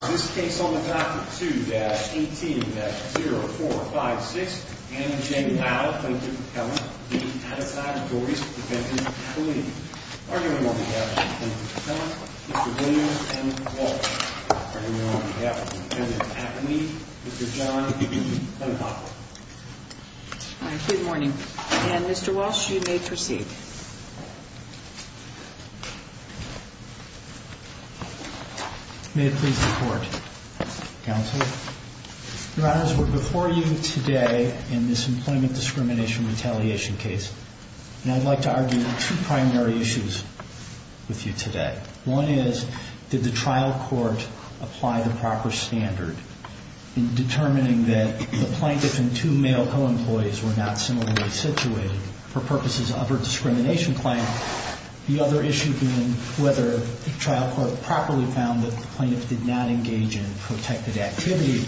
This case on the Doctrine 2-18-0456, Anna Jane Powell, plaintiff appellant, Dean Adetai, Doris, defendant appellee. Our hearing on behalf of the plaintiff's appellant, Mr. Williams, and Mr. Walsh. Our hearing on behalf of the defendant's appellee, Mr. John E. Abbott. Good morning. And Mr. Walsh, you may proceed. May it please the Court, Counsel. Your Honors, we're before you today in this employment discrimination retaliation case. And I'd like to argue two primary issues with you today. One is, did the trial court apply the proper standard in determining that the plaintiff and two male co-employees were not similarly situated for purposes of her discrimination claim? The other issue being whether the trial court properly found that the plaintiff did not engage in protected activity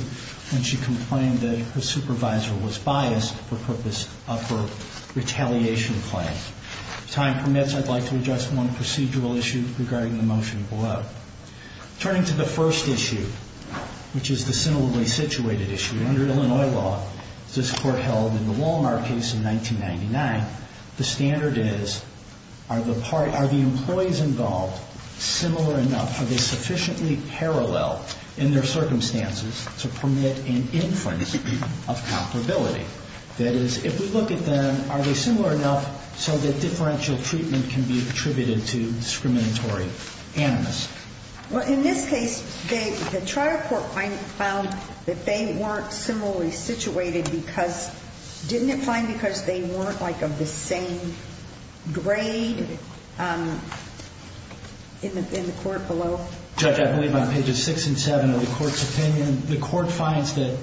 when she complained that her supervisor was biased for purpose of her retaliation claim. If time permits, I'd like to address one procedural issue regarding the motion below. Turning to the first issue, which is the similarly situated issue. Under Illinois law, this Court held in the Walmart case in 1999, the standard is, are the employees involved similar enough, are they sufficiently parallel in their circumstances to permit an inference of comparability? That is, if we look at them, are they similar enough so that differential treatment can be attributed to discriminatory animals? Well, in this case, the trial court found that they weren't similarly situated because, didn't it find because they weren't like of the same grade in the court below? Judge, I believe on pages six and seven of the Court's opinion, the Court finds that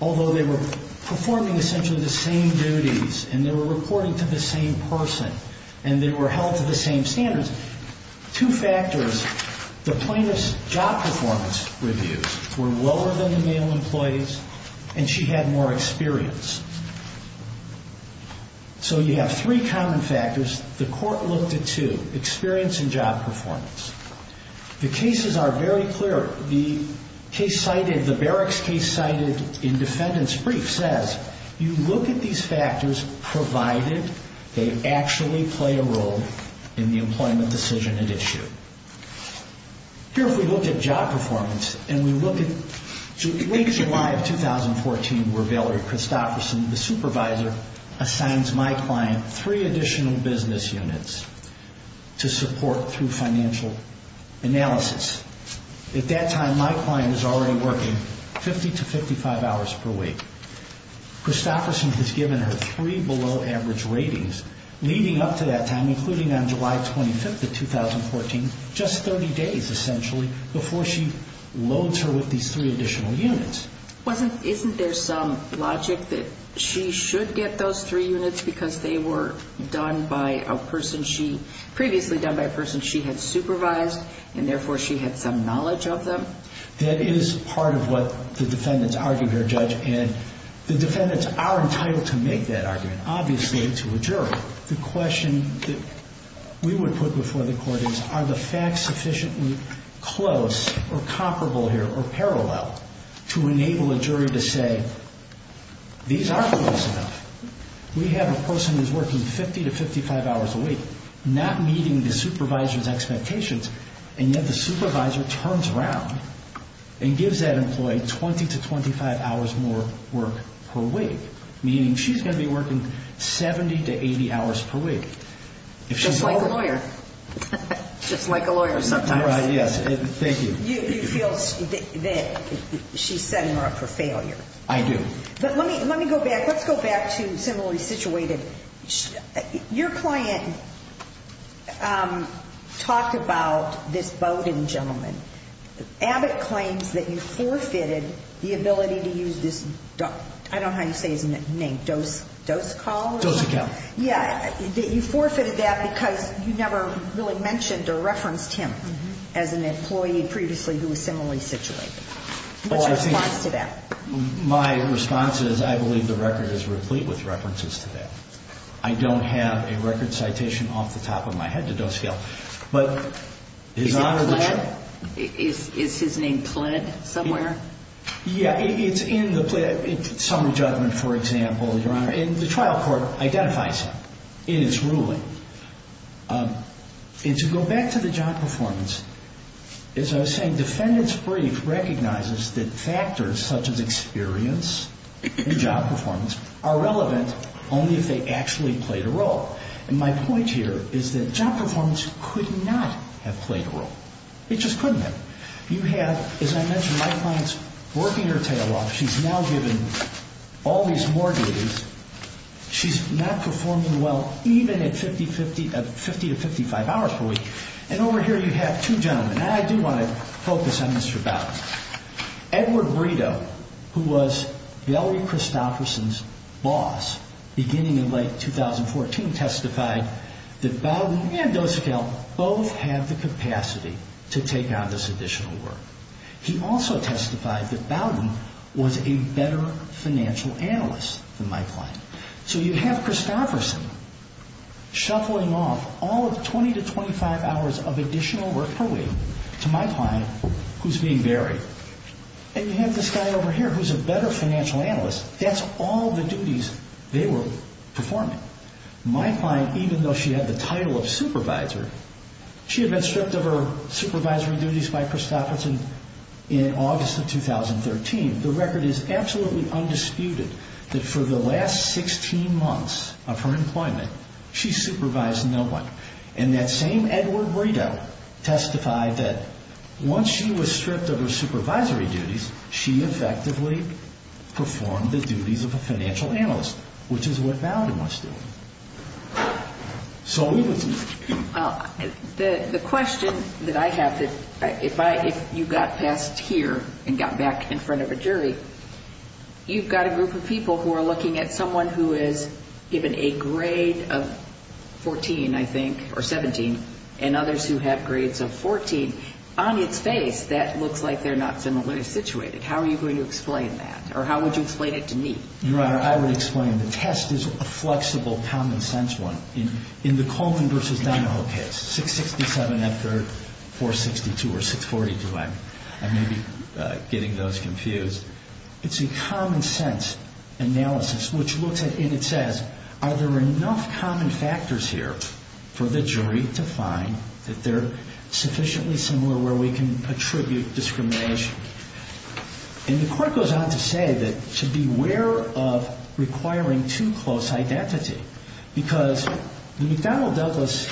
although they were performing essentially the same duties, and they were reporting to the same person, and they were held to the same standards, two factors, the plaintiff's job performance reviews were lower than the male employee's, and she had more experience. So you have three common factors. The Court looked at two, experience and job performance. The cases are very clear. The case cited, the Barracks case cited in defendant's brief says, you look at these factors provided they actually play a role in the employment decision at issue. Here if we look at job performance, and we look at weeks in July of 2014 where Valerie Christopherson, the supervisor, assigns my client three additional business units to support through financial analysis. At that time my client was already working 50 to 55 hours per week. Christopherson has given her three below average ratings leading up to that time, including on July 25th of 2014, just 30 days essentially before she loads her with these three additional units. Wasn't, isn't there some logic that she should get those three units because they were done by a person she, previously done by a person she had supervised, and therefore she had some knowledge of them? That is part of what the defendants argue here, Judge. And the defendants are entitled to make that argument, obviously to a jury. The question that we would put before the Court is, are the facts sufficiently close or comparable here or parallel to enable a jury to say, these aren't close enough. We have a person who's working 50 to 55 hours a week, not meeting the supervisor's expectations, and yet the supervisor turns around and gives that employee 20 to 25 hours more work per week, meaning she's going to be working 70 to 80 hours per week. Just like a lawyer. Just like a lawyer sometimes. Right, yes. Thank you. You feel that she's setting her up for failure. I do. But let me, let me go back, let's go back to similarly situated. Your client talked about this Bowden gentleman. Abbott claims that you forfeited the ability to use this, I don't know how you say his name, dose, dose call? Dose account. Yeah, that you forfeited that because you never really mentioned or referenced him as an employee previously who was similarly situated. What's your response to that? My response is I believe the record is replete with references to that. I don't have a record citation off the top of my head to dose scale. Is his name pled somewhere? Yeah, it's in the summer judgment, for example, Your Honor, and the trial court identifies him in its ruling. And to go back to the job performance, as I was saying, defendants brief recognizes that factors such as experience and job performance are relevant only if they actually played a role. And my point here is that job performance could not have played a role. It just couldn't have. You have, as I mentioned, my client's working her tail off. She's now given all these mortgages. She's not performing well, even at 50 to 55 hours per week. And over here you have two gentlemen. I do want to focus on Mr. Bowden. Edward Brito, who was Valerie Christopherson's boss beginning in late 2014, testified that Bowden and dose account both have the capacity to take on this additional work. He also testified that Bowden was a better financial analyst than my client. So you have Christopherson shuffling off all of 20 to 25 hours of additional work per week to my client, who's being buried. And you have this guy over here who's a better financial analyst. That's all the duties they were performing. My client, even though she had the title of supervisor, she had been stripped of her supervisory duties by Christopherson in August of 2013. The record is absolutely undisputed that for the last 16 months of her employment, she supervised no one. And that same Edward Brito testified that once she was stripped of her supervisory duties, she effectively performed the duties of a financial analyst, which is what Bowden was doing. The question that I have, if you got past here and got back in front of a jury, you've got a group of people who are looking at someone who is given a grade of 14, I think, or 17, and others who have grades of 14. On its face, that looks like they're not similarly situated. How are you going to explain that, or how would you explain it to me? Your Honor, I would explain. The test is a flexible, common-sense one. In the Coleman v. Donahoe case, 667 after 462 or 642, I may be getting those confused. It's a common-sense analysis, and it says, are there enough common factors here for the jury to find that they're sufficiently similar where we can attribute discrimination? And the court goes on to say that to beware of requiring too close identity, because the McDonnell-Douglas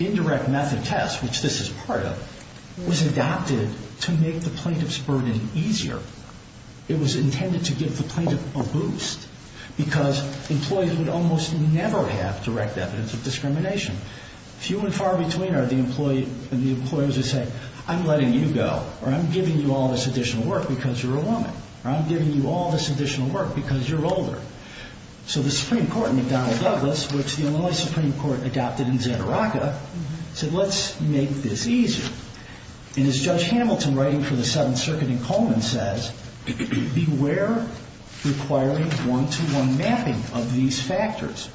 indirect method test, which this is part of, was adopted to make the plaintiff's burden easier. It was intended to give the plaintiff a boost, because employees would almost never have direct evidence of discrimination. Few and far between are the employers who say, I'm letting you go, or I'm giving you all this additional work because you're a woman, or I'm giving you all this additional work because you're older. So the Supreme Court, McDonnell-Douglas, which the Illinois Supreme Court adopted in Xantaraca, said, let's make this easier. And as Judge Hamilton, writing for the Seventh Circuit in Coleman, says, beware requiring one-to-one mapping of these factors.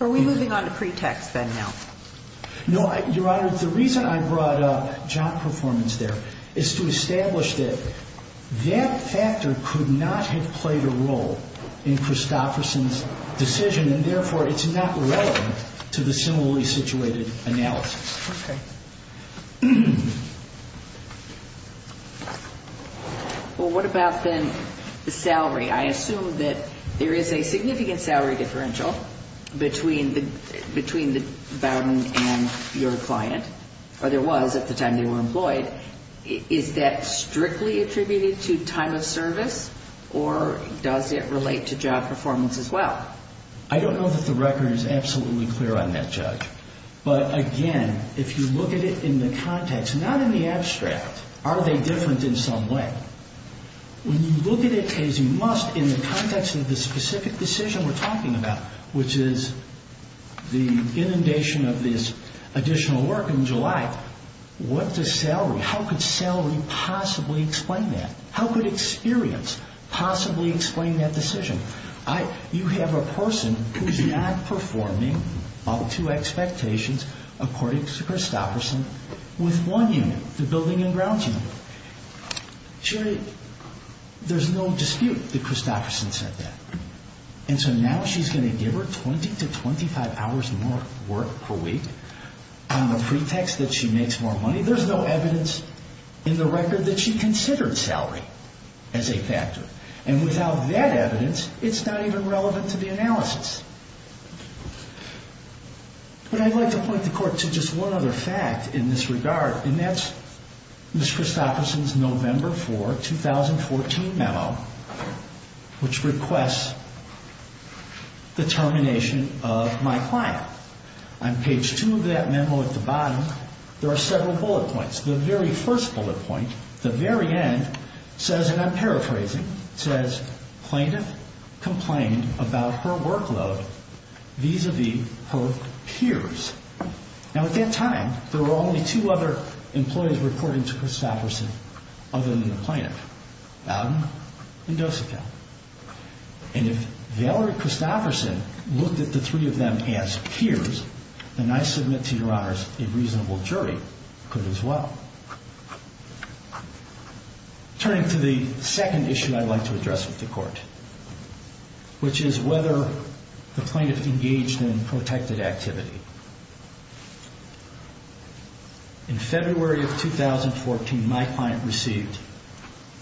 Are we moving on to pretext, then, now? No, Your Honor. The reason I brought up job performance there is to establish that that factor could not have played a role in Christofferson's decision, and therefore, it's not relevant to the similarly situated analysis. Okay. Well, what about, then, the salary? I assume that there is a significant salary differential between Bowden and your client, or there was at the time they were employed. Is that strictly attributed to time of service, or does it relate to job performance as well? I don't know that the record is absolutely clear on that, Judge. But, again, if you look at it in the context, not in the abstract, are they different in some way? When you look at it as you must in the context of the specific decision we're talking about, which is the inundation of this additional work in July, what does salary, how could salary possibly explain that? How could experience possibly explain that decision? You have a person who's not performing up to expectations, according to Christofferson, with one unit, the building and grounds unit. Jerry, there's no dispute that Christofferson said that. And so now she's going to give her 20 to 25 hours more work per week on the pretext that she makes more money. There's no evidence in the record that she considered salary as a factor. And without that evidence, it's not even relevant to the analysis. But I'd like to point the court to just one other fact in this regard, and that's Ms. Christofferson's November 4, 2014 memo, which requests the termination of my client. On page 2 of that memo at the bottom, there are several bullet points. The very first bullet point, the very end, says, and I'm paraphrasing, says plaintiff complained about her workload vis-a-vis her peers. Now, at that time, there were only two other employees reporting to Christofferson other than the plaintiff, Bowden and Dosickel. And if Valerie Christofferson looked at the three of them as peers, then I submit to your honors, a reasonable jury could as well. Turning to the second issue I'd like to address with the court, which is whether the plaintiff engaged in protected activity. In February of 2014, my client received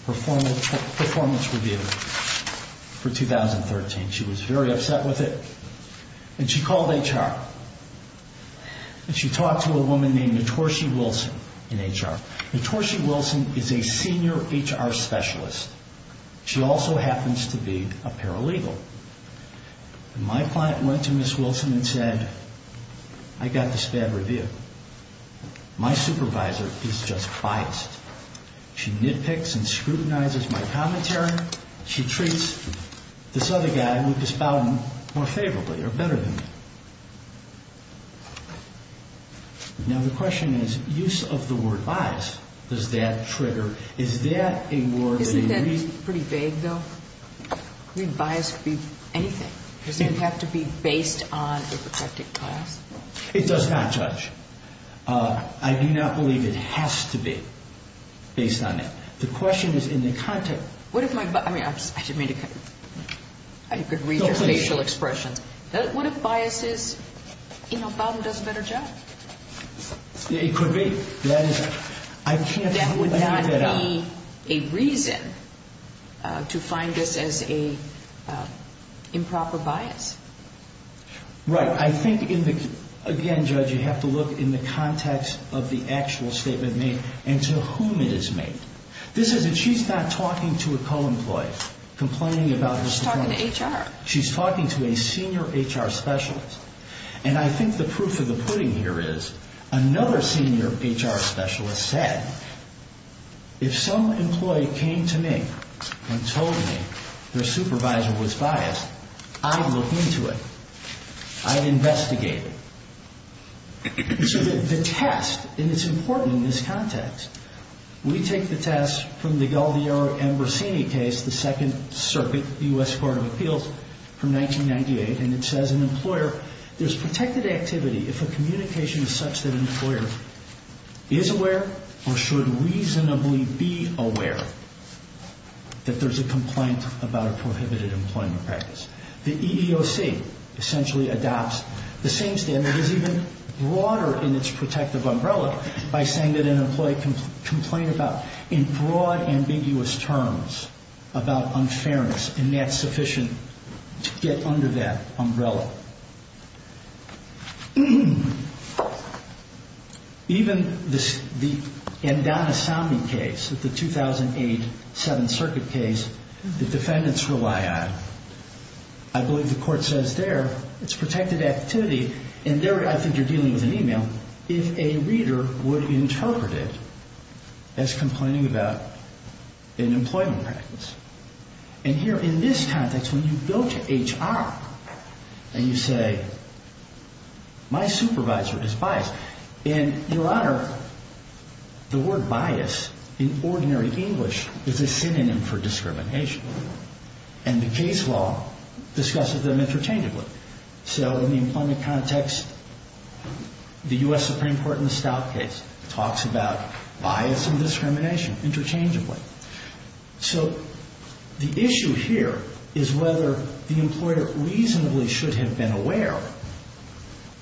her performance review for 2013. She was very upset with it. And she called HR. And she talked to a woman named Notorshi Wilson in HR. Notorshi Wilson is a senior HR specialist. She also happens to be a paralegal. And my client went to Ms. Wilson and said, I got this bad review. My supervisor is just biased. She nitpicks and scrutinizes my commentary. She treats this other guy, Lucas Bowden, more favorably or better than me. Now, the question is, use of the word biased, does that trigger, is that a word that a reason? Isn't that pretty vague, though? I mean, bias could be anything. Does it have to be based on a protected class? It does not, Judge. I do not believe it has to be based on that. The question is in the context. What if my, I mean, I didn't mean to, I could read your facial expressions. What if bias is, you know, Bowden does a better job? It could be. That would not be a reason to find this as a improper bias. Right. I think, again, Judge, you have to look in the context of the actual statement made and to whom it is made. This is that she's not talking to a co-employee, complaining about his performance. She's talking to HR. She's talking to a senior HR specialist. And I think the proof of the pudding here is another senior HR specialist said, if some employee came to me and told me their supervisor was biased, I'd look into it. I'd investigate it. So the test, and it's important in this context, we take the test from the Galdiero Ambrosini case, the Second Circuit U.S. Court of Appeals from 1998, and it says an employer, there's protected activity if a communication is such that an employer is aware or should reasonably be aware that there's a complaint about a prohibited employment practice. The EEOC essentially adopts the same standard. It is even broader in its protective umbrella by saying that an employee can complain about, in broad, ambiguous terms, about unfairness, and that's sufficient to get under that umbrella. Even the Andon Assami case, the 2008 Seventh Circuit case, the defendants rely on. I believe the court says there it's protected activity, and there I think you're dealing with an email, if a reader would interpret it as complaining about an employment practice. And here in this context, when you go to HR and you say, my supervisor is biased, and, Your Honor, the word bias in ordinary English is a synonym for discrimination. And the case law discusses them interchangeably. So in the employment context, the U.S. Supreme Court in the Stout case talks about bias and discrimination interchangeably. So the issue here is whether the employer reasonably should have been aware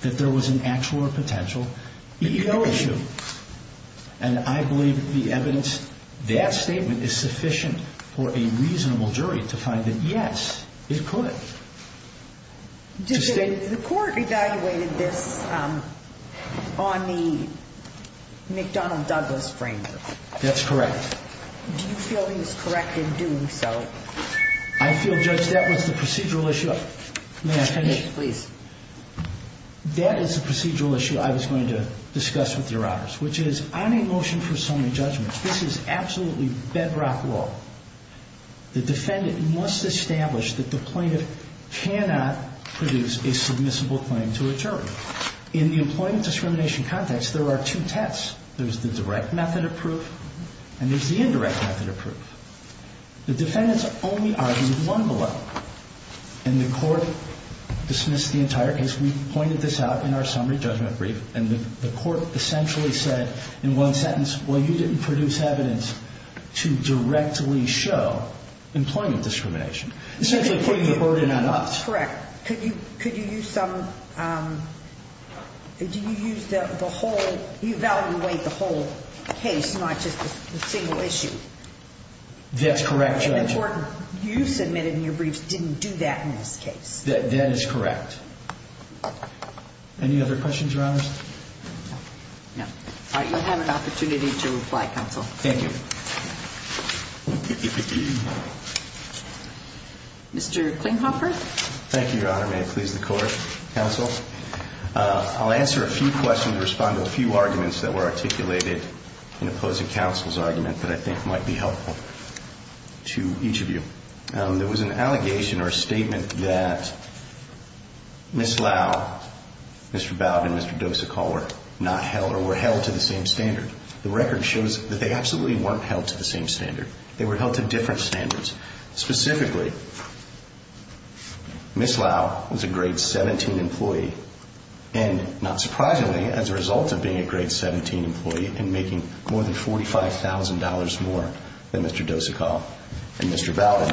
that there was an actual or potential EEOC issue. And I believe the evidence, that statement is sufficient for a reasonable jury to find that, yes, it could. Did the court evaluate this on the McDonnell-Douglas framework? That's correct. Do you feel he was correct in doing so? I feel, Judge, that was the procedural issue. May I finish? Please. That is the procedural issue I was going to discuss with Your Honors, which is on a motion for summary judgment, this is absolutely bedrock law. The defendant must establish that the plaintiff cannot produce a submissible claim to a jury. In the employment discrimination context, there are two tests. There's the direct method of proof, and there's the indirect method of proof. The defendants only argue one below. And the court dismissed the entire case. We pointed this out in our summary judgment brief. And the court essentially said in one sentence, well, you didn't produce evidence to directly show employment discrimination. Essentially putting the burden on us. Correct. Could you use some, did you use the whole, evaluate the whole case, not just the single issue? That's correct, Judge. The court, you submitted in your briefs, didn't do that in this case. That is correct. Any other questions, Your Honors? No. All right, you'll have an opportunity to reply, Counsel. Thank you. Mr. Klinghoffer. Thank you, Your Honor. May it please the Court, Counsel. I'll answer a few questions to respond to a few arguments that were articulated in opposing Counsel's argument that I think might be helpful to each of you. There was an allegation or a statement that Ms. Lau, Mr. Bowd and Mr. Dosicall were not held or were held to the same standard. The record shows that they absolutely weren't held to the same standard. They were held to different standards. Specifically, Ms. Lau was a grade 17 employee, and not surprisingly, as a result of being a grade 17 employee and making more than $45,000 more than Mr. Dosicall and Mr. Bowd,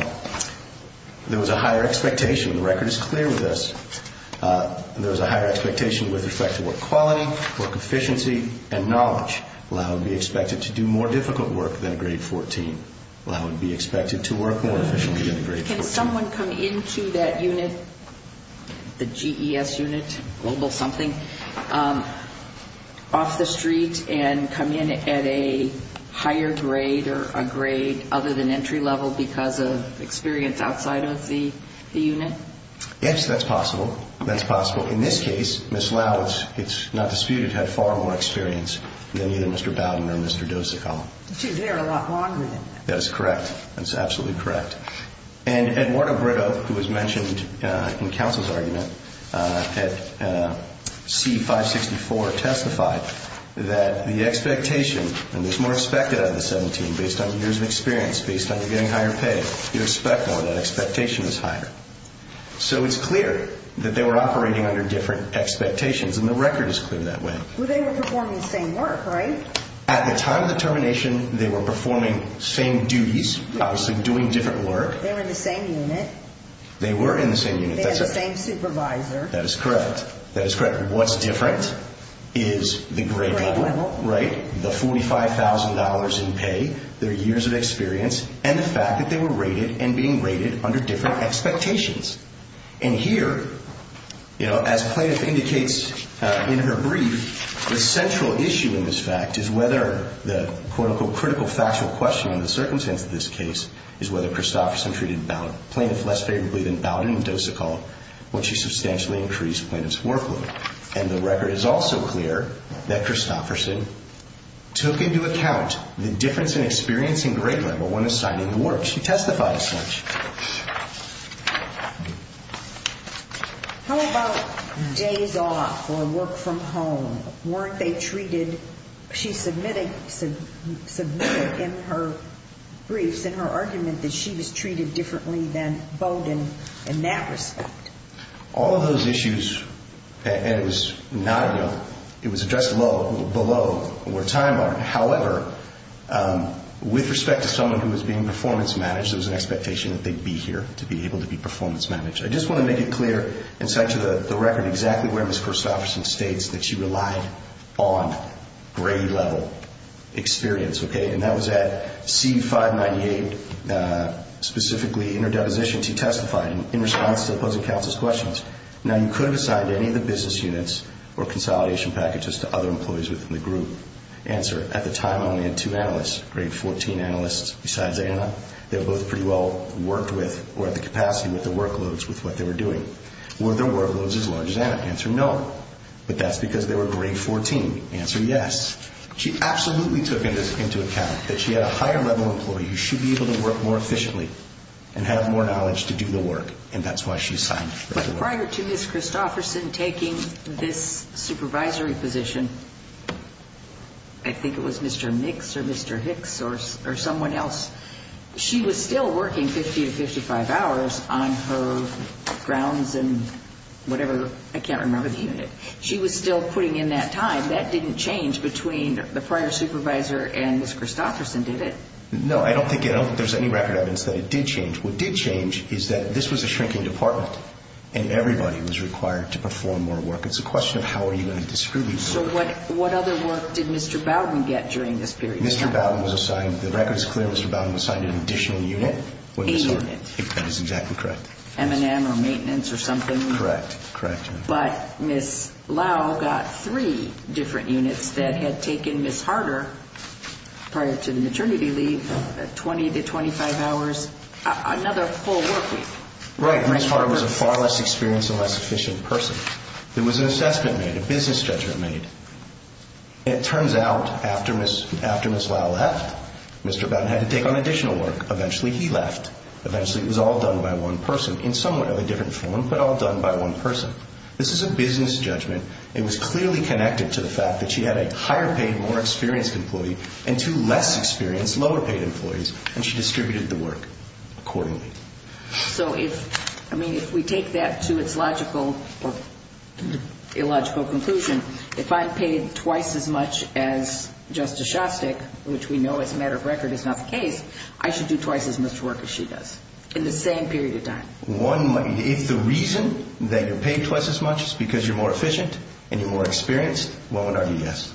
there was a higher expectation. The record is clear with this. There was a higher expectation with respect to work quality, work efficiency, and knowledge. Lau would be expected to do more difficult work than a grade 14. Lau would be expected to work more efficiently than a grade 14. Can someone come into that unit, the GES unit, Global something, off the street and come in at a higher grade or a grade other than entry level because of experience outside of the unit? Yes, that's possible. That's possible. In this case, Ms. Lau, it's not disputed, had far more experience than either Mr. Bowd or Mr. Dosicall. She was there a lot longer than that. That is correct. That's absolutely correct. And Eduardo Britto, who was mentioned in the counsel's argument at C-564, testified that the expectation, and there's more expected out of the 17 based on years of experience, based on your getting higher pay, you expect more, that expectation is higher. So it's clear that they were operating under different expectations, and the record is clear that way. Well, they were performing the same work, right? At the time of the termination, they were performing same duties, obviously doing different work. They were in the same unit. They were in the same unit. They had the same supervisor. That is correct. That is correct. What's different is the grade level, right, the $45,000 in pay, their years of experience, and the fact that they were rated and being rated under different expectations. And here, you know, as Plaintiff indicates in her brief, the central issue in this fact is whether the, quote, unquote, critical factual question in the circumstance of this case is whether Christofferson treated Plaintiff less favorably than Bowden and Dosicall when she substantially increased Plaintiff's workload. And the record is also clear that Christofferson took into account the difference in experience and grade level when assigning the work. She testified as such. How about days off or work from home? Weren't they treated? She submitted in her briefs, in her argument, that she was treated differently than Bowden in that respect. All of those issues, and it was not, you know, it was addressed below where time line. However, with respect to someone who was being performance managed, there was an expectation that they'd be here to be able to be performance managed. I just want to make it clear and cite to the record exactly where Ms. Christofferson states that she relied on grade level experience. Okay, and that was at C-598, specifically interdeposition. She testified in response to opposing counsel's questions. Now, you could have assigned any of the business units or consolidation packages to other employees within the group. Answer, at the time only had two analysts, grade 14 analysts besides Anna. They were both pretty well worked with or at the capacity with the workloads with what they were doing. Were their workloads as large as Anna? Answer, no. But that's because they were grade 14. Answer, yes. She absolutely took into account that she had a higher level employee who should be able to work more efficiently and have more knowledge to do the work, and that's why she assigned. But prior to Ms. Christofferson taking this supervisory position, I think it was Mr. Nix or Mr. Hicks or someone else, she was still working 50 to 55 hours on her grounds and whatever. I can't remember the unit. She was still putting in that time. That didn't change between the prior supervisor and Ms. Christofferson, did it? No, I don't think there's any record evidence that it did change. What did change is that this was a shrinking department, and everybody was required to perform more work. It's a question of how are you going to distribute work. So what other work did Mr. Bowden get during this period? Mr. Bowden was assigned, the record is clear, Mr. Bowden was assigned an additional unit. A unit. That is exactly correct. M&M or maintenance or something? Correct, correct. But Ms. Lau got three different units that had taken Ms. Harder, prior to the maternity leave, 20 to 25 hours. Another full work week. Right. Ms. Harder was a far less experienced and less efficient person. There was an assessment made, a business judgment made. It turns out after Ms. Lau left, Mr. Bowden had to take on additional work. Eventually he left. Eventually it was all done by one person in somewhat of a different form, but all done by one person. This is a business judgment. It was clearly connected to the fact that she had a higher paid, more experienced employee and two less experienced, lower paid employees, and she distributed the work accordingly. So if, I mean, if we take that to its logical or illogical conclusion, if I'm paid twice as much as Justice Shostak, which we know as a matter of record is not the case, I should do twice as much work as she does in the same period of time. If the reason that you're paid twice as much is because you're more efficient and you're more experienced, one would argue yes.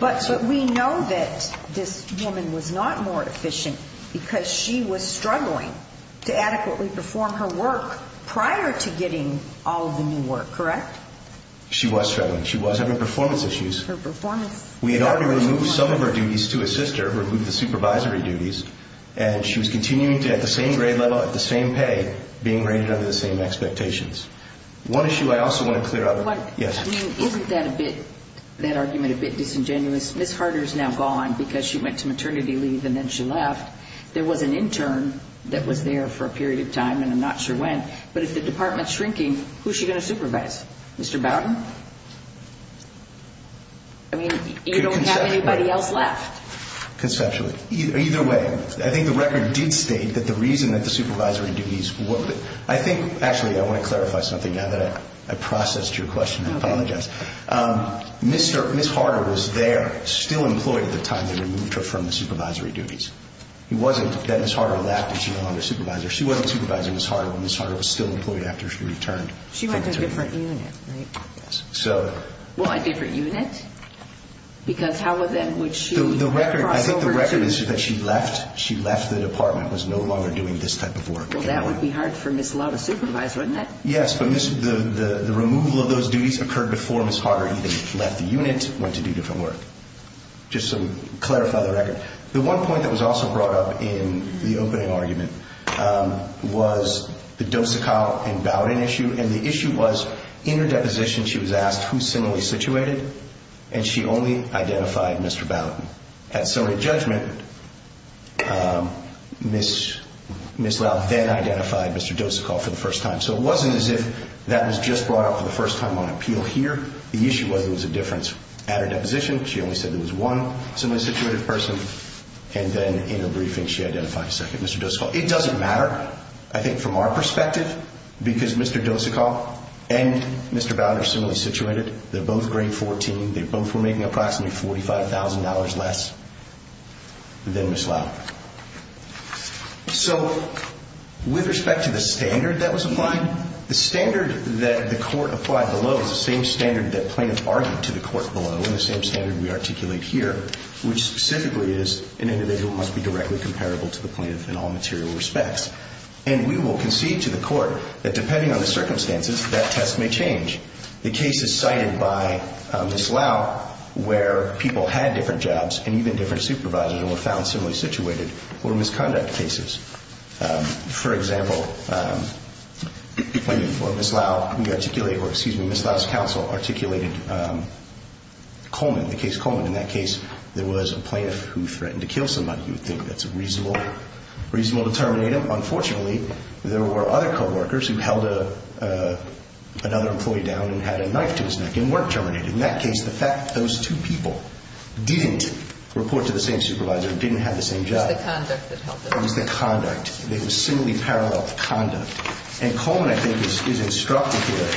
But we know that this woman was not more efficient because she was struggling to adequately perform her work prior to getting all of the new work, correct? She was struggling. She was having performance issues. Her performance. We had already removed some of her duties to assist her, removed the supervisory duties, and she was continuing at the same grade level, at the same pay, being rated under the same expectations. One issue I also want to clear up. Isn't that argument a bit disingenuous? Ms. Harder is now gone because she went to maternity leave and then she left. There was an intern that was there for a period of time, and I'm not sure when, but if the department is shrinking, who is she going to supervise? Mr. Bowden? I mean, you don't have anybody else left. Conceptually. Either way, I think the record did state that the reason that the supervisory duties were I think, actually, I want to clarify something now that I processed your question. I apologize. Ms. Harder was there, still employed at the time they removed her from the supervisory duties. It wasn't that Ms. Harder left and she no longer supervised her. She wasn't supervising Ms. Harder when Ms. Harder was still employed after she returned. She went to a different unit, right? Yes. Well, a different unit? Because how, then, would she cross over to? I think the record is that she left. She left the department, was no longer doing this type of work. Well, that would be hard for Ms. Law to supervise, wouldn't it? Yes, but the removal of those duties occurred before Ms. Harder even left the unit, went to do different work. Just to clarify the record. The one point that was also brought up in the opening argument was the Dosakow and Bowden issue, and the issue was, in her deposition, she was asked who's similarly situated, and she only identified Mr. Bowden. At Sotomayor judgment, Ms. Low then identified Mr. Dosakow for the first time. So it wasn't as if that was just brought up for the first time on appeal here. The issue was there was a difference at her deposition. She only said there was one similarly situated person, and then in her briefing she identified a second Mr. Dosakow. It doesn't matter, I think, from our perspective, because Mr. Dosakow and Mr. Bowden are similarly situated. They're both grade 14. They both were making approximately $45,000 less than Ms. Low. So with respect to the standard that was applied, the standard that the court applied below is the same standard that plaintiff argued to the court below and the same standard we articulate here, which specifically is an individual must be directly comparable to the plaintiff in all material respects. And we will concede to the court that depending on the circumstances, that test may change. The cases cited by Ms. Low where people had different jobs and even different supervisors and were found similarly situated were misconduct cases. For example, Ms. Low's counsel articulated Coleman, the case Coleman. In that case, there was a plaintiff who threatened to kill somebody. You would think that's reasonable to terminate him. Unfortunately, there were other coworkers who held another employee down and had a knife to his neck and weren't terminated. In that case, the fact that those two people didn't report to the same supervisor and didn't have the same job. It was the conduct that helped them. It was the conduct. It was similarly parallel conduct. And Coleman, I think, is instructed here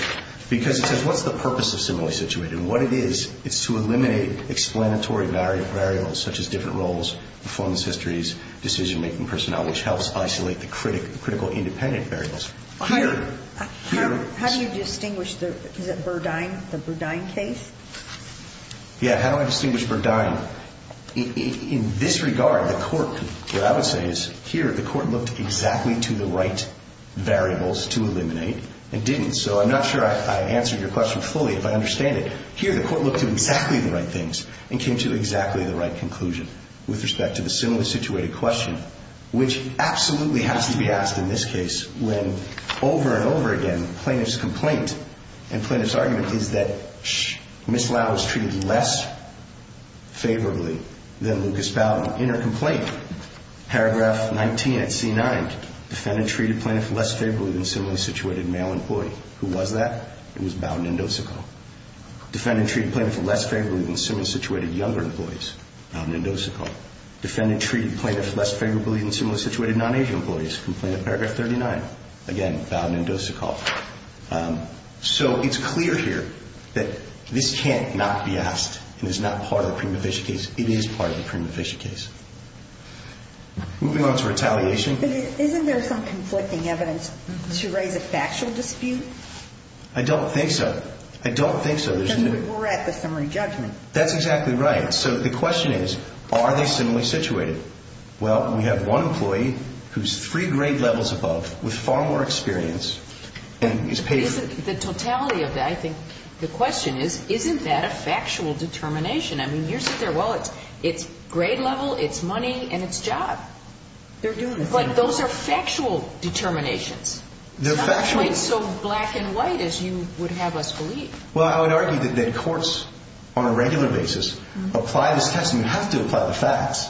because he says what's the purpose of similarly situated? And what it is, it's to eliminate explanatory variables such as different roles, performance histories, decision-making personnel, which helps isolate the critical independent variables. How do you distinguish the Burdine case? Yeah, how do I distinguish Burdine? In this regard, the court, what I would say is here the court looked exactly to the right variables to eliminate and didn't. So I'm not sure I answered your question fully if I understand it. Here the court looked at exactly the right things and came to exactly the right conclusion with respect to the similarly situated question, which absolutely has to be asked in this case when over and over again plaintiff's complaint and plaintiff's argument is that Ms. Lau was treated less favorably than Lucas Bowden in her complaint. Paragraph 19 at C9, defendant treated plaintiff less favorably than similarly situated male employee. Who was that? It was Bowden and Dosico. Defendant treated plaintiff less favorably than similarly situated younger employees. Bowden and Dosico. Defendant treated plaintiff less favorably than similarly situated non-Asian employees. Complaint at paragraph 39. Again, Bowden and Dosico. So it's clear here that this can't not be asked and is not part of the prima facie case. It is part of the prima facie case. Moving on to retaliation. Isn't there some conflicting evidence to raise a factual dispute? I don't think so. I don't think so. Because we're at the summary judgment. That's exactly right. So the question is, are they similarly situated? Well, we have one employee who's three grade levels above, with far more experience, and is paid for. The totality of that, I think the question is, isn't that a factual determination? I mean, you're sitting there, well, it's grade level, it's money, and it's job. They're doing the same thing. But those are factual determinations. They're factual. It's not quite so black and white as you would have us believe. Well, I would argue that courts, on a regular basis, apply this test and have to apply the facts.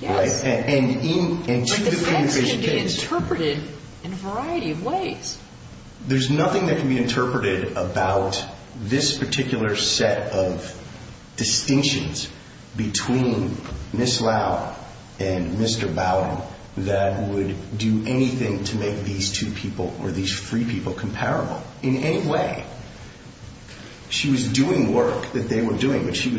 Yes. And to the prima facie case. But the facts can be interpreted in a variety of ways. There's nothing that can be interpreted about this particular set of distinctions between Ms. Lau and Mr. Bowden that would do anything to make these two people or these three people comparable in any way. She was doing work that they were doing, but she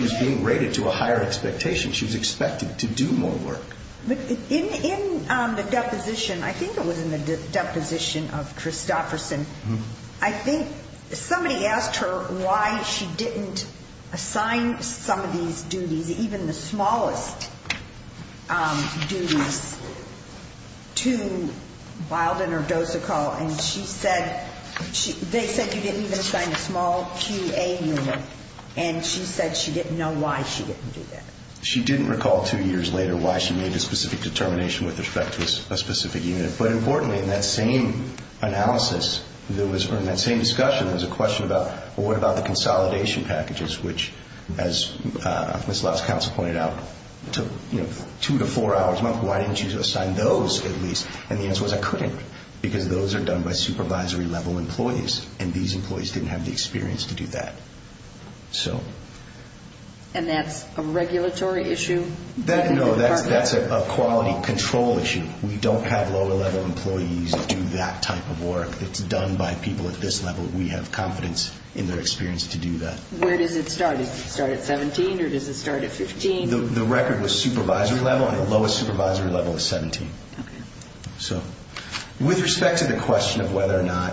was being rated to a higher expectation. She was expected to do more work. But in the deposition, I think it was in the deposition of Christofferson, I think somebody asked her why she didn't assign some of these duties, even the smallest duties, to Bowden or Dosicall. And she said they said you didn't even assign a small QA unit. And she said she didn't know why she didn't do that. She didn't recall two years later why she made a specific determination with respect to a specific unit. But importantly, in that same analysis, or in that same discussion, there was a question about, well, what about the consolidation packages, which, as Ms. Lau's counsel pointed out, took two to four hours a month. Why didn't you assign those at least? And the answer was I couldn't because those are done by supervisory-level employees, and these employees didn't have the experience to do that. And that's a regulatory issue? No, that's a quality control issue. We don't have lower-level employees do that type of work. It's done by people at this level. We have confidence in their experience to do that. Where does it start? Does it start at 17 or does it start at 15? The record was supervisory-level, and the lowest supervisory-level is 17. Okay. So with respect to the question of whether or not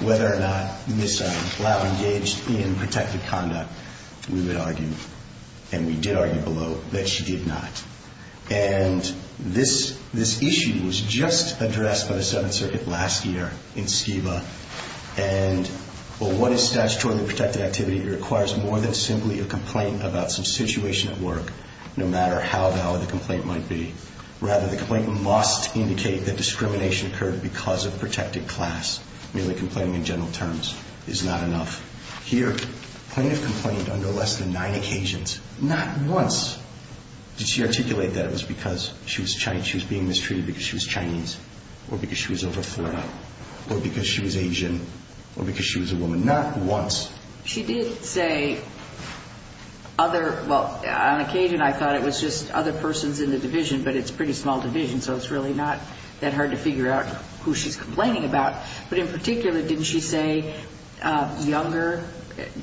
Ms. Lau engaged in protected conduct, we would argue, and we did argue below, that she did not. And this issue was just addressed by the Seventh Circuit last year in SCEVA, and what is statutorily protected activity? It requires more than simply a complaint about some situation at work, no matter how valid the complaint might be. Rather, the complaint must indicate that discrimination occurred because of protected class. Merely complaining in general terms is not enough. Here, plaintiff complained under less than nine occasions, not once. Did she articulate that it was because she was being mistreated because she was Chinese or because she was over 40 or because she was Asian or because she was a woman? Not once. She did say other, well, on occasion I thought it was just other persons in the division, but it's a pretty small division, so it's really not that hard to figure out who she's complaining about. But in particular, didn't she say younger?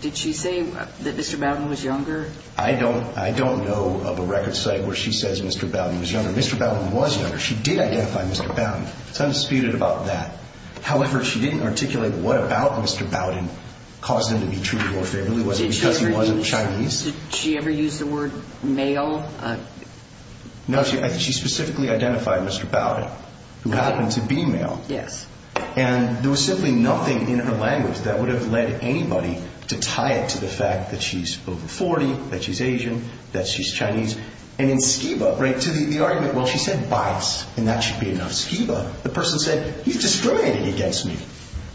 Did she say that Mr. Bowden was younger? I don't know of a record site where she says Mr. Bowden was younger. Mr. Bowden was younger. She did identify Mr. Bowden. It's undisputed about that. However, she didn't articulate what about Mr. Bowden caused him to be treated more favorably. Was it because he wasn't Chinese? Did she ever use the word male? No, she specifically identified Mr. Bowden, who happened to be male. Yes. And there was simply nothing in her language that would have led anybody to tie it to the fact that she's over 40, that she's Asian, that she's Chinese. And in Skiba, right, to the argument, well, she said bias, and that should be enough. Skiba, the person said, you discriminated against me.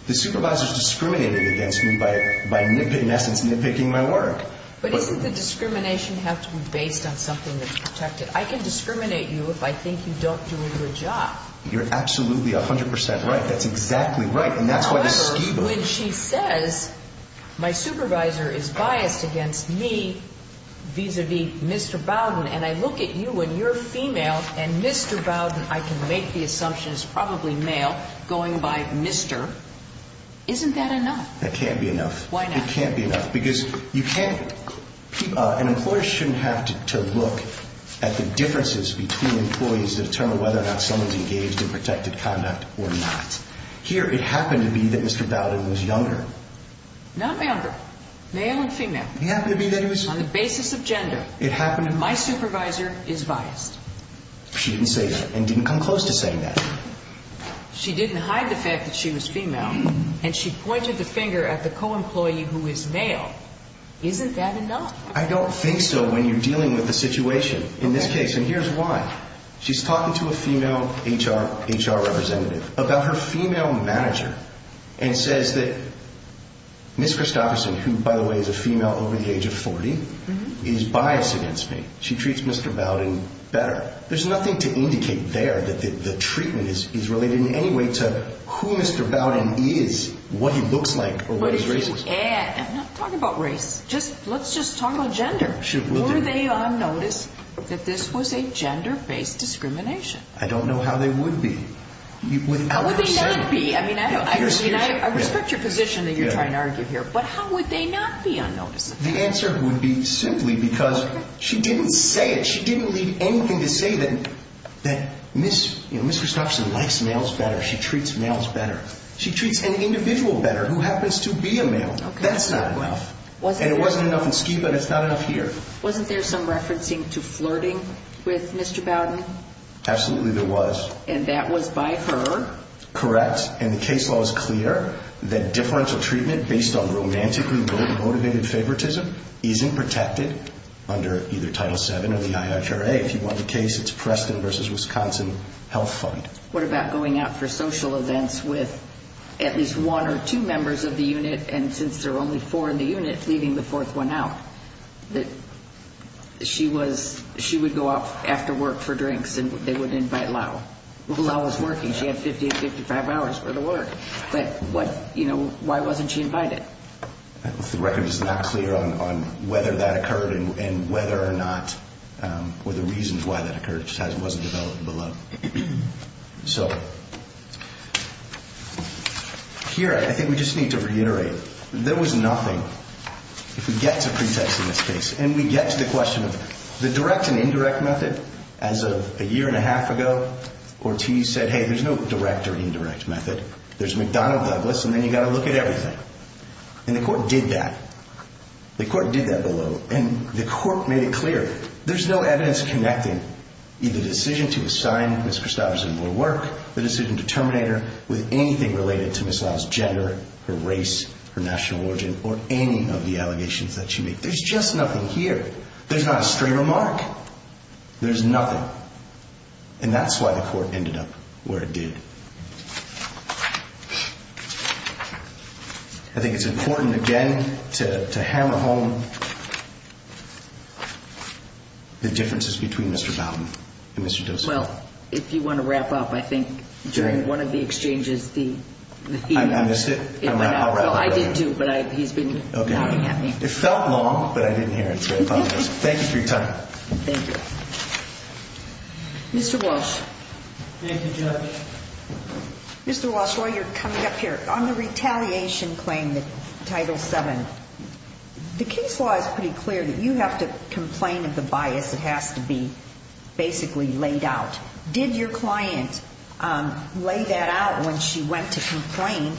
The supervisor discriminated against me by nitpicking, in essence, nitpicking my work. But doesn't the discrimination have to be based on something that's protected? I can discriminate you if I think you don't do a good job. You're absolutely 100 percent right. That's exactly right, and that's why the Skiba. When she says, my supervisor is biased against me vis-a-vis Mr. Bowden, and I look at you when you're female and Mr. Bowden, I can make the assumption, is probably male, going by Mr., isn't that enough? That can't be enough. Why not? It can't be enough because you can't. An employer shouldn't have to look at the differences between employees to determine whether or not someone's engaged in protected conduct or not. Here, it happened to be that Mr. Bowden was younger. Not younger, male and female. It happened to be that he was... On the basis of gender. It happened... My supervisor is biased. She didn't say that and didn't come close to saying that. She didn't hide the fact that she was female, and she pointed the finger at the co-employee who is male. Isn't that enough? I don't think so when you're dealing with a situation in this case, and here's why. She's talking to a female HR representative about her female manager and says that Ms. Christopherson, who, by the way, is a female over the age of 40, is biased against me. She treats Mr. Bowden better. There's nothing to indicate there that the treatment is related in any way to who Mr. Bowden is, what he looks like, or what his race is. I'm not talking about race. Let's just talk about gender. Were they on notice that this was a gender-based discrimination? I don't know how they would be. How would they not be? I respect your position that you're trying to argue here, but how would they not be on notice? The answer would be simply because she didn't say it. She didn't leave anything to say that Ms. Christopherson likes males better. She treats males better. She treats an individual better who happens to be a male. That's not enough. And it wasn't enough in Ski, but it's not enough here. Wasn't there some referencing to flirting with Mr. Bowden? Absolutely there was. And that was by her? Correct. And the case law is clear that differential treatment based on romantically motivated favoritism isn't protected under either Title VII or the IHRA. If you want the case, it's Preston v. Wisconsin Health Fund. What about going out for social events with at least one or two members of the unit, and since there are only four in the unit, leaving the fourth one out? She would go out after work for drinks, and they would invite Lau. Lau was working. She had 50 to 55 hours for the work. But why wasn't she invited? The record is not clear on whether that occurred and whether or not, or the reasons why that occurred just wasn't developed below. So here, I think we just need to reiterate, there was nothing. If we get to pretext in this case, and we get to the question of the direct and indirect method, as of a year and a half ago, Ortiz said, hey, there's no direct or indirect method. There's McDonnell Douglas, and then you've got to look at everything. And the court did that. The court did that below, and the court made it clear. There's no evidence connecting either the decision to assign Ms. Christopherson more work, the decision to terminate her, with anything related to Ms. Lau's gender, her race, her national origin, or any of the allegations that she made. There's just nothing here. There's not a straight remark. There's nothing. And that's why the court ended up where it did. I think it's important, again, to hammer home the differences between Mr. Bowden and Mr. Dozier. Well, if you want to wrap up, I think during one of the exchanges, the theme. I missed it. I'll wrap it up. No, I didn't, too, but he's been pointing at me. It felt long, but I didn't hear it. Thank you for your time. Thank you. Mr. Walsh. Thank you, Judge. Mr. Walsh, while you're coming up here, on the retaliation claim, the Title VII, the case law is pretty clear that you have to complain of the bias. It has to be basically laid out. Did your client lay that out when she went to complain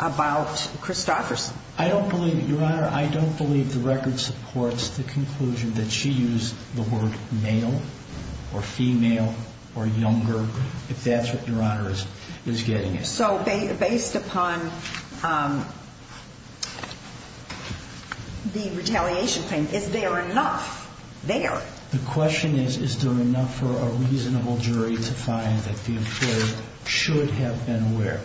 about Christopherson? I don't believe it, Your Honor. I don't believe the record supports the conclusion that she used the word male or female or younger, if that's what Your Honor is getting at. So based upon the retaliation claim, is there enough there? The question is, is there enough for a reasonable jury to find that the employer should have been aware?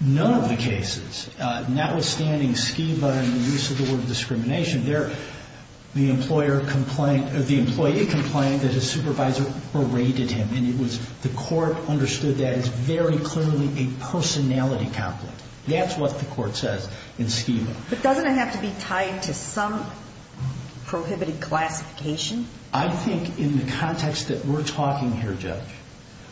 None of the cases, notwithstanding Skiba and the use of the word discrimination, the employee complained that his supervisor berated him, and the court understood that as very clearly a personality conflict. That's what the court says in Skiba. But doesn't it have to be tied to some prohibited classification? I think in the context that we're talking here, Judge,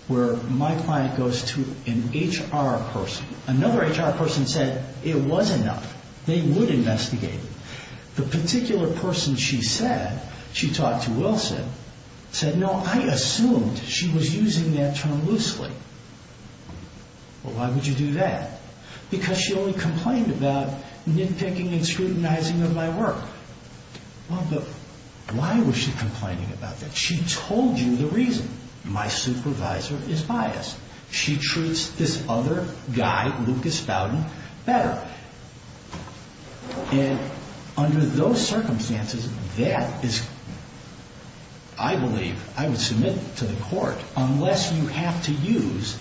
where my client goes to an HR person, another HR person said it was enough. They would investigate it. The particular person she said, she talked to Wilson, said, no, I assumed she was using that term loosely. Well, why would you do that? Because she only complained about nitpicking and scrutinizing of my work. Well, but why was she complaining about that? She told you the reason. My supervisor is biased. She treats this other guy, Lucas Bowden, better. And under those circumstances, that is, I believe, I would submit to the court, unless you have to use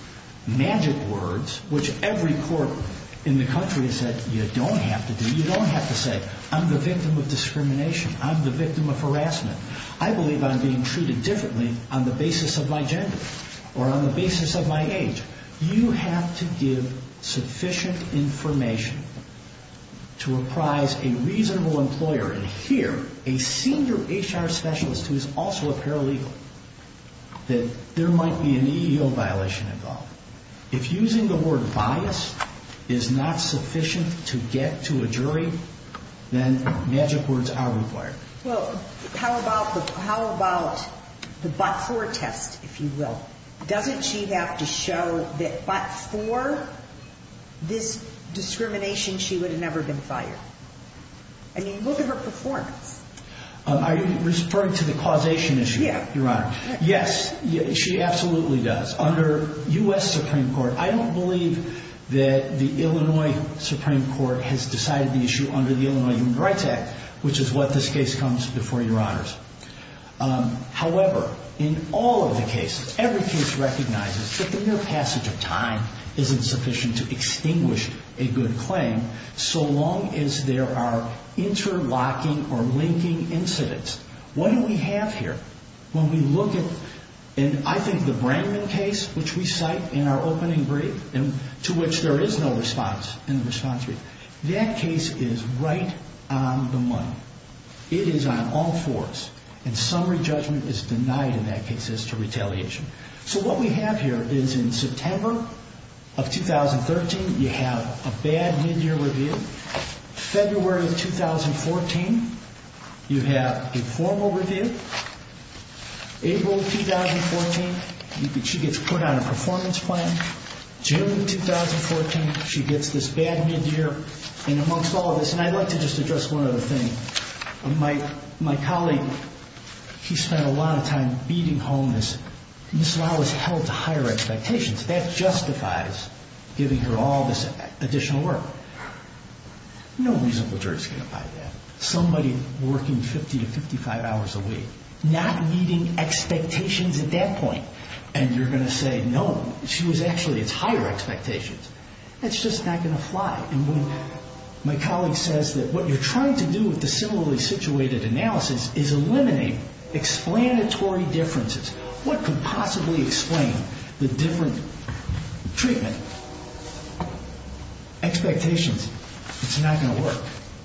magic words, which every court in the country has said you don't have to do. You don't have to say, I'm the victim of discrimination. I'm the victim of harassment. I believe I'm being treated differently on the basis of my gender or on the basis of my age. You have to give sufficient information to reprise a reasonable employer. And here, a senior HR specialist who is also a paralegal, that there might be an EEO violation involved. If using the word bias is not sufficient to get to a jury, then magic words are required. Well, how about the before test, if you will? Doesn't she have to show that but for this discrimination, she would have never been fired? I mean, look at her performance. Are you referring to the causation issue, Your Honor? Yes, she absolutely does. Under U.S. Supreme Court, I don't believe that the Illinois Supreme Court has decided the issue under the Illinois Human Rights Act, which is what this case comes before, Your Honors. However, in all of the cases, every case recognizes that the mere passage of time isn't sufficient to extinguish a good claim, so long as there are interlocking or linking incidents. What do we have here? When we look at, and I think the Brangman case, which we cite in our opening brief, to which there is no response in the response brief, that case is right on the money. It is on all fours, and summary judgment is denied in that case as to retaliation. So what we have here is in September of 2013, you have a bad midyear review. February of 2014, you have a formal review. April of 2014, she gets put on a performance plan. June of 2014, she gets this bad midyear. And amongst all of this, and I'd like to just address one other thing. My colleague, he spent a lot of time beating homeless. And this law was held to higher expectations. That justifies giving her all this additional work. No reasonable jury is going to find that. Somebody working 50 to 55 hours a week, not meeting expectations at that point, and you're going to say, no, she was actually at higher expectations. That's just not going to fly. And when my colleague says that what you're trying to do with the similarly situated analysis is eliminate explanatory differences. What could possibly explain the different treatment expectations? It's not going to work.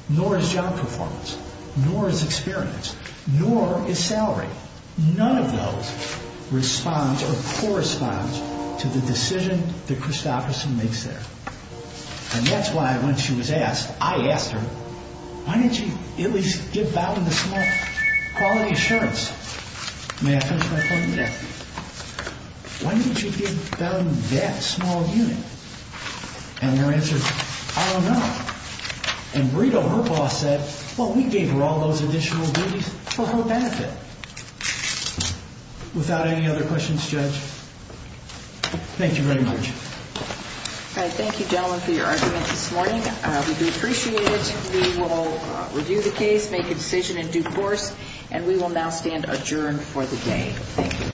Nor is job performance. Nor is experience. Nor is salary. None of those responds or corresponds to the decision that Christopherson makes there. And that's why when she was asked, I asked her, why didn't you at least give Bowdoin the small quality assurance? May I finish my point there? Why didn't you give Bowdoin that small unit? And her answer is, I don't know. And Brito, her boss, said, well, we gave her all those additional duties for her benefit. Without any other questions, Judge, thank you very much. Thank you, gentlemen, for your argument this morning. We do appreciate it. We will review the case, make a decision in due course, and we will now stand adjourned for the day. Thank you.